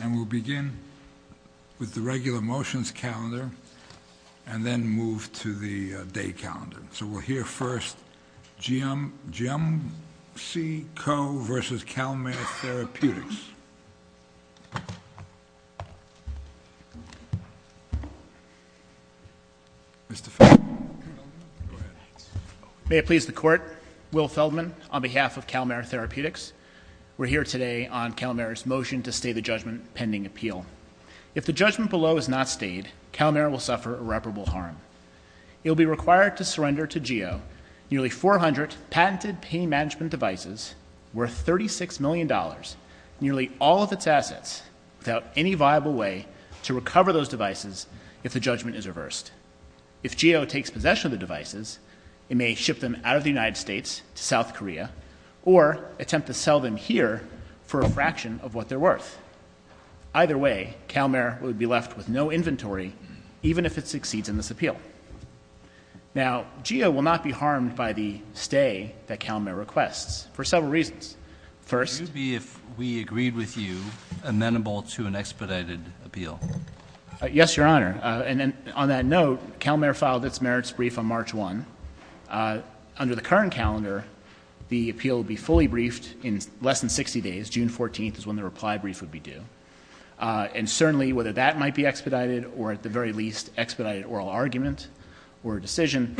And we'll begin with the regular motions calendar, and then move to the day calendar. So we'll hear first, GEOMC Co. v. CalMare Therapeutics. Mr. Feldman. Go ahead. May it please the court. Will Feldman on behalf of CalMare Therapeutics. We're here today on CalMare's motion to stay the judgment pending appeal. If the judgment below is not stayed, CalMare will suffer irreparable harm. It will be required to surrender to GEO nearly 400 patented pain management devices worth $36 million, nearly all of its assets, without any viable way to recover those devices if the judgment is reversed. If GEO takes possession of the devices, it may ship them out of the United States to sell them here for a fraction of what they're worth. Either way, CalMare would be left with no inventory, even if it succeeds in this appeal. Now, GEO will not be harmed by the stay that CalMare requests for several reasons. First— It would be if we agreed with you amenable to an expedited appeal. Yes, Your Honor. On that note, CalMare filed its merits brief on March 1. Under the current calendar, the appeal would be fully briefed in less than 60 days. June 14 is when the reply brief would be due. And certainly, whether that might be expedited or, at the very least, expedited oral argument or decision,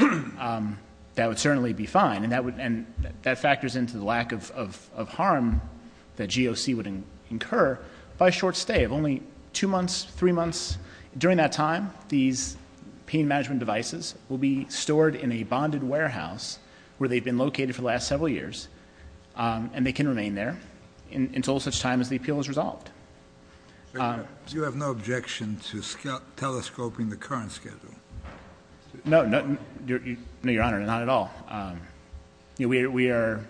that would certainly be fine. And that factors into the lack of harm that GOC would incur by a short stay of only two months, three months. During that time, these pain management devices will be stored in a bonded warehouse where they've been located for the last several years, and they can remain there until such time as the appeal is resolved. You have no objection to telescoping the current schedule? No. No, Your Honor, not at all. We are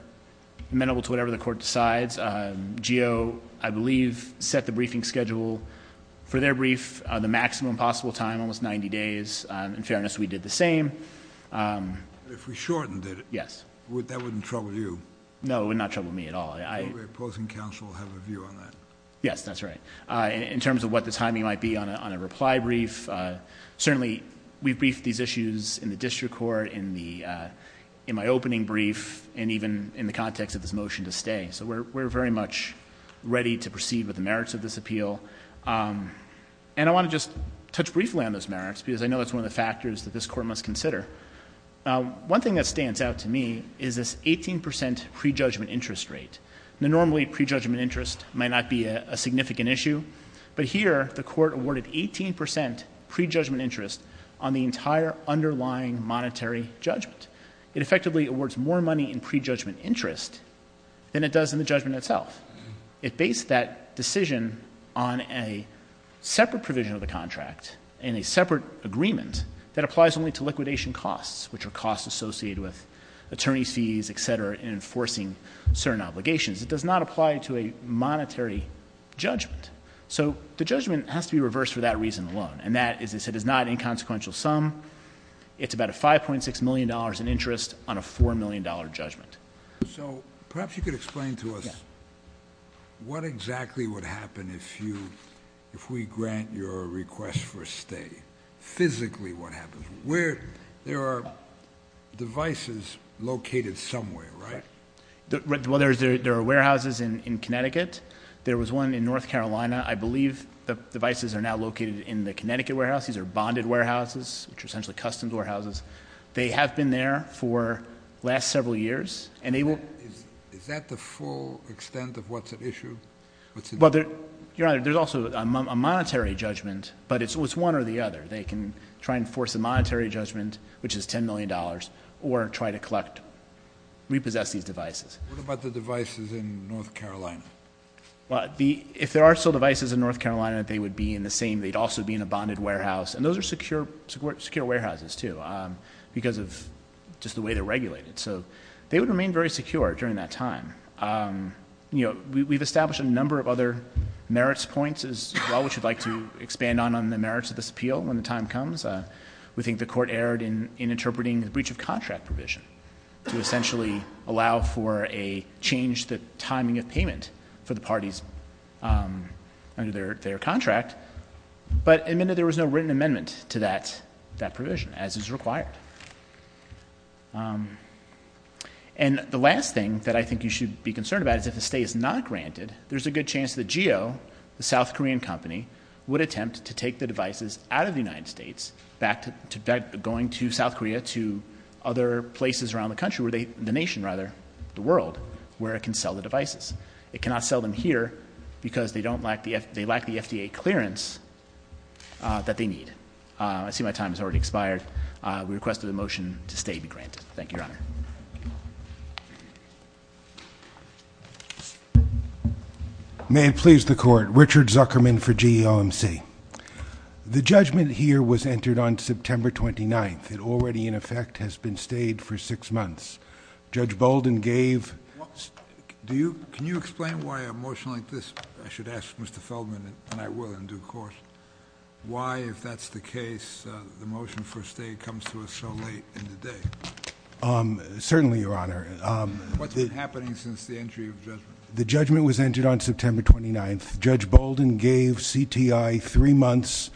amenable to whatever the court decides. GO, I believe, set the briefing schedule for their brief, the maximum possible time, almost 90 days. In fairness, we did the same. If we shortened it, that wouldn't trouble you? No, it would not trouble me at all. Would the opposing counsel have a view on that? Yes, that's right. In terms of what the timing might be on a reply brief, certainly we've briefed these issues in the district court, in my opening brief, and even in the context of this motion to stay. So we're very much ready to proceed with the merits of this appeal. And I want to just touch briefly on those merits, because I know it's one of the factors that this court must consider. One thing that stands out to me is this 18 percent prejudgment interest rate. Normally, prejudgment interest might not be a significant issue, but here the court awarded 18 percent prejudgment interest on the entire underlying monetary judgment. It effectively awards more money in prejudgment interest than it does in the judgment itself. It based that decision on a separate provision of the contract, in a separate agreement, that applies only to liquidation costs, which are costs associated with attorney's fees, et cetera, and enforcing certain obligations. It does not apply to a monetary judgment. So the judgment has to be reversed for that reason alone, and that is it is not an inconsequential sum. It's about a $5.6 million in interest on a $4 million judgment. So perhaps you could explain to us what exactly would happen if we grant your request for a stay, physically what happens. There are devices located somewhere, right? Well, there are warehouses in Connecticut. There was one in North Carolina. I believe the devices are now located in the Connecticut warehouse. These are bonded warehouses, which are essentially customs warehouses. They have been there for the last several years. Is that the full extent of what's at issue? Your Honor, there's also a monetary judgment, but it's one or the other. They can try and force a monetary judgment, which is $10 million, or try to collect, repossess these devices. What about the devices in North Carolina? If there are still devices in North Carolina, they would be in the same, they'd also be in a bonded warehouse. And those are secure warehouses, too, because of just the way they're regulated. So they would remain very secure during that time. We've established a number of other merits points as well, which we'd like to expand on on the merits of this appeal when the time comes. We think the court erred in interpreting the breach of contract provision to essentially allow for a change to the timing of payment for the parties under their contract. But admitted there was no written amendment to that provision, as is required. And the last thing that I think you should be concerned about is if a stay is not granted, there's a good chance that Jio, the South Korean company, would attempt to take the devices out of the United States, going to South Korea, to other places around the country, the nation, rather, the world, where it can sell the devices. It cannot sell them here, because they lack the FDA clearance that they need. I see my time has already expired. We request that the motion to stay be granted. Thank you, Your Honor. May it please the Court. Richard Zuckerman for GOMC. The judgment here was entered on September 29th. It already, in effect, has been stayed for six months. Judge Bolden gave... Can you explain why a motion like this, I should ask Mr. Feldman, and I will in due course, why, if that's the case, the motion for a stay comes to us so late in the day? Certainly, Your Honor. What's been happening since the entry of the judgment? The judgment was entered on September 29th. Judge Bolden gave CTI three months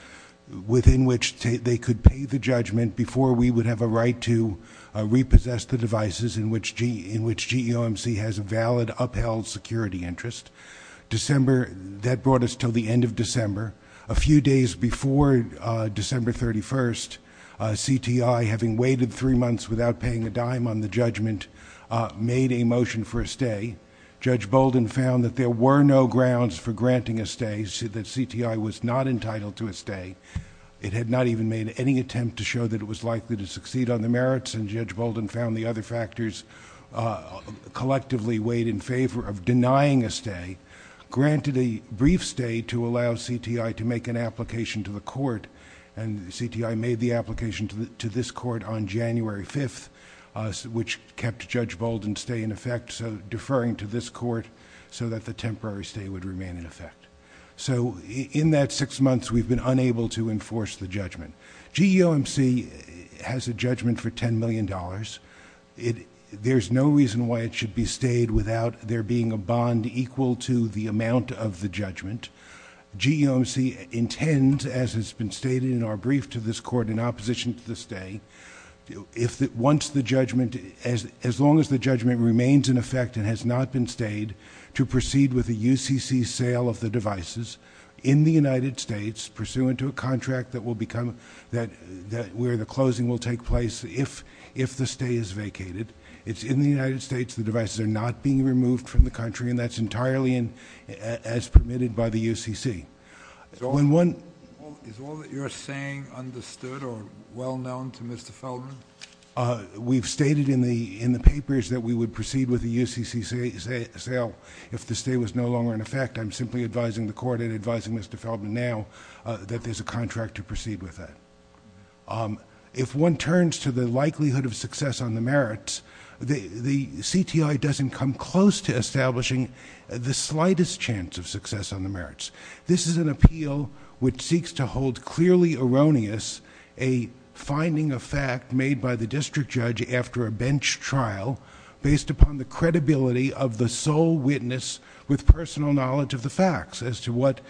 within which they could pay the judgment before we would have a right to repossess the devices in which GOMC has a valid upheld security interest. That brought us to the end of December. A few days before December 31st, CTI, having waited three months without paying a dime on the judgment, made a motion for a stay. Judge Bolden found that there were no grounds for granting a stay, that CTI was not entitled to a stay. It had not even made any attempt to show that it was likely to succeed on the merits, and Judge Bolden found the other factors collectively weighed in favor of denying a stay, granted a brief stay to allow CTI to make an application to the court, and CTI made the application to this court on January 5th, which kept Judge Bolden's stay in effect, so deferring to this court so that the temporary stay would remain in effect. So in that six months, we've been unable to enforce the judgment. GOMC has a judgment for $10 million. There's no reason why it should be stayed without there being a bond equal to the amount of the judgment. GOMC intends, as has been stated in our brief to this court in opposition to the stay, once the judgment... as long as the judgment remains in effect and has not been stayed, to proceed with a UCC sale of the devices in the United States pursuant to a contract that will become... where the closing will take place if the stay is vacated. It's in the United States. The devices are not being removed from the country, and that's entirely as permitted by the UCC. When one... Is all that you're saying understood or well known to Mr. Feldman? We've stated in the papers that we would proceed with a UCC sale if the stay was no longer in effect. I'm simply advising the court and advising Mr. Feldman now that there's a contract to proceed with that. If one turns to the likelihood of success on the merits, the CTI doesn't come close to establishing the slightest chance of success on the merits. This is an appeal which seeks to hold clearly erroneous a finding of fact made by the district judge after a bench trial based upon the credibility of the sole witness with personal knowledge of the facts as to what...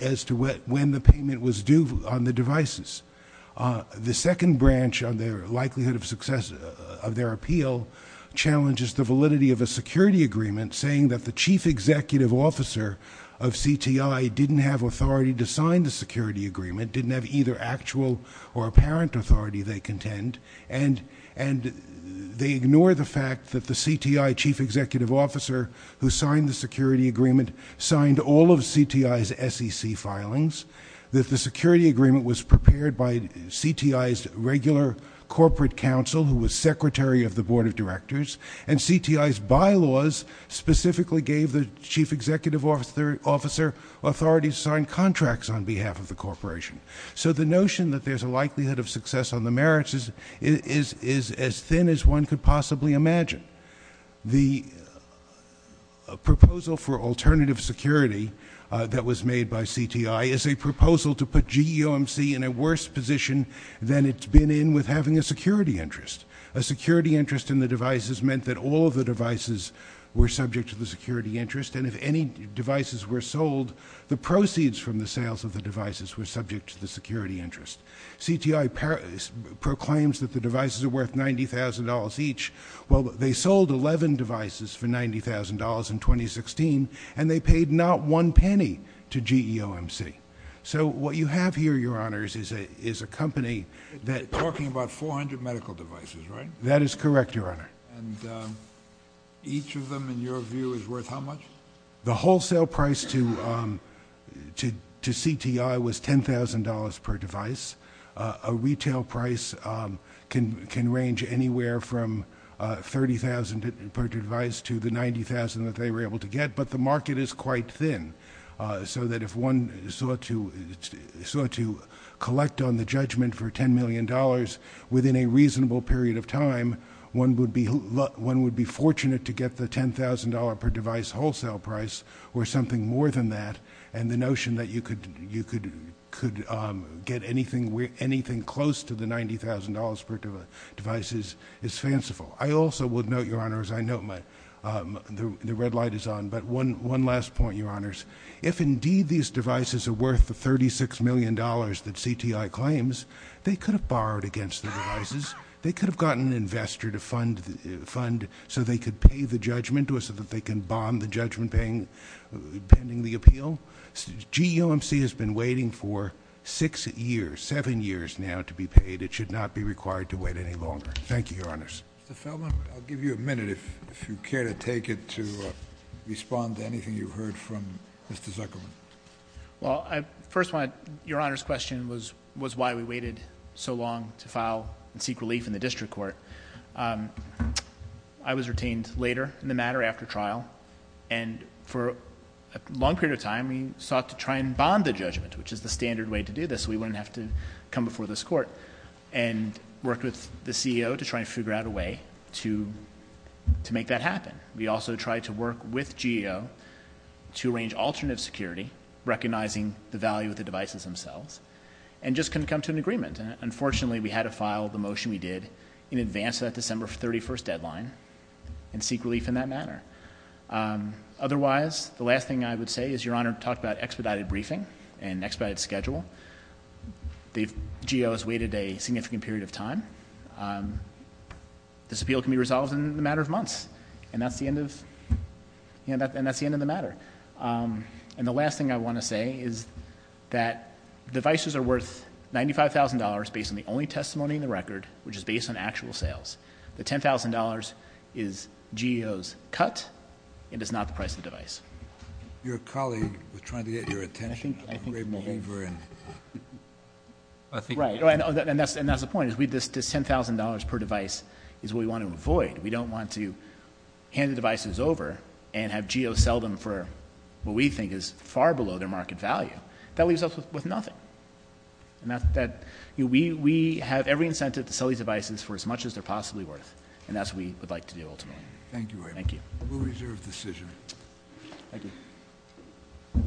as to when the payment was due on the devices. The second branch on the likelihood of success of their appeal challenges the validity of a security agreement saying that the chief executive officer of CTI didn't have authority to sign the security agreement, didn't have either actual or apparent authority they contend, and they ignore the fact that the CTI chief executive officer who signed the security agreement signed all of CTI's SEC filings, that the security agreement was prepared by the secretary of the board of directors, and CTI's bylaws specifically gave the chief executive officer authority to sign contracts on behalf of the corporation. So the notion that there's a likelihood of success on the merits is as thin as one could possibly imagine. The proposal for alternative security that was made by CTI is a proposal to put GEOMC in a worse position than it's been in with having a security interest. A security interest in the devices meant that all of the devices were subject to the security interest, and if any devices were sold, the proceeds from the sales of the devices were subject to the security interest. CTI proclaims that the devices are worth $90,000 each. Well, they sold 11 devices for $90,000 in 2016, and they paid not one penny to GEOMC. So what you have here, your honors, is a company that- You're talking about 400 medical devices, right? That is correct, your honor. And each of them, in your view, is worth how much? The wholesale price to CTI was $10,000 per device. A retail price can range anywhere from $30,000 per device to the $90,000 that they were able to get, but the market is quite large. If you were to collect on the judgment for $10 million within a reasonable period of time, one would be fortunate to get the $10,000 per device wholesale price or something more than that, and the notion that you could get anything close to the $90,000 per device is fanciful. I also would note, your honors, I note the red light is on, but one last point, your honors. If indeed these devices are worth the $36 million that CTI claims, they could have borrowed against the devices. They could have gotten an investor to fund so they could pay the judgment or so that they can bond the judgment pending the appeal. GEOMC has been waiting for six years, seven years now, to be paid. It should not be required to wait any longer. Thank you, your honors. Mr. Feldman, I'll give you a minute if you care to take it to respond to anything you've learned from Mr. Zuckerman. Well, I first want, your honors, the question was why we waited so long to file and seek relief in the district court. I was retained later in the matter after trial, and for a long period of time, we sought to try and bond the judgment, which is the standard way to do this so we wouldn't have to come before this court, and worked with the CEO to try and figure out a way to make that happen. We also tried to work with GEO to arrange alternative security, recognizing the value of the devices themselves, and just couldn't come to an agreement. Unfortunately, we had to file the motion we did in advance of that December 31st deadline and seek relief in that matter. Otherwise, the last thing I would say is your honor talked about expedited briefing and if GEO has waited a significant period of time, this appeal can be resolved in a matter of months, and that's the end of the matter. And the last thing I want to say is that devices are worth $95,000 based on the only testimony in the record, which is based on actual sales. The $10,000 is GEO's cut and is not the price of the device. Your colleague was trying to get your attention. Right, and that's the point. This $10,000 per device is what we want to avoid. We don't want to hand the devices over and have GEO sell them for what we think is far below their market value. That leaves us with nothing. We have every incentive to sell these devices for as much as they're possibly worth, and that's what we would like to do ultimately. Thank you. We'll reserve decision. Thank you.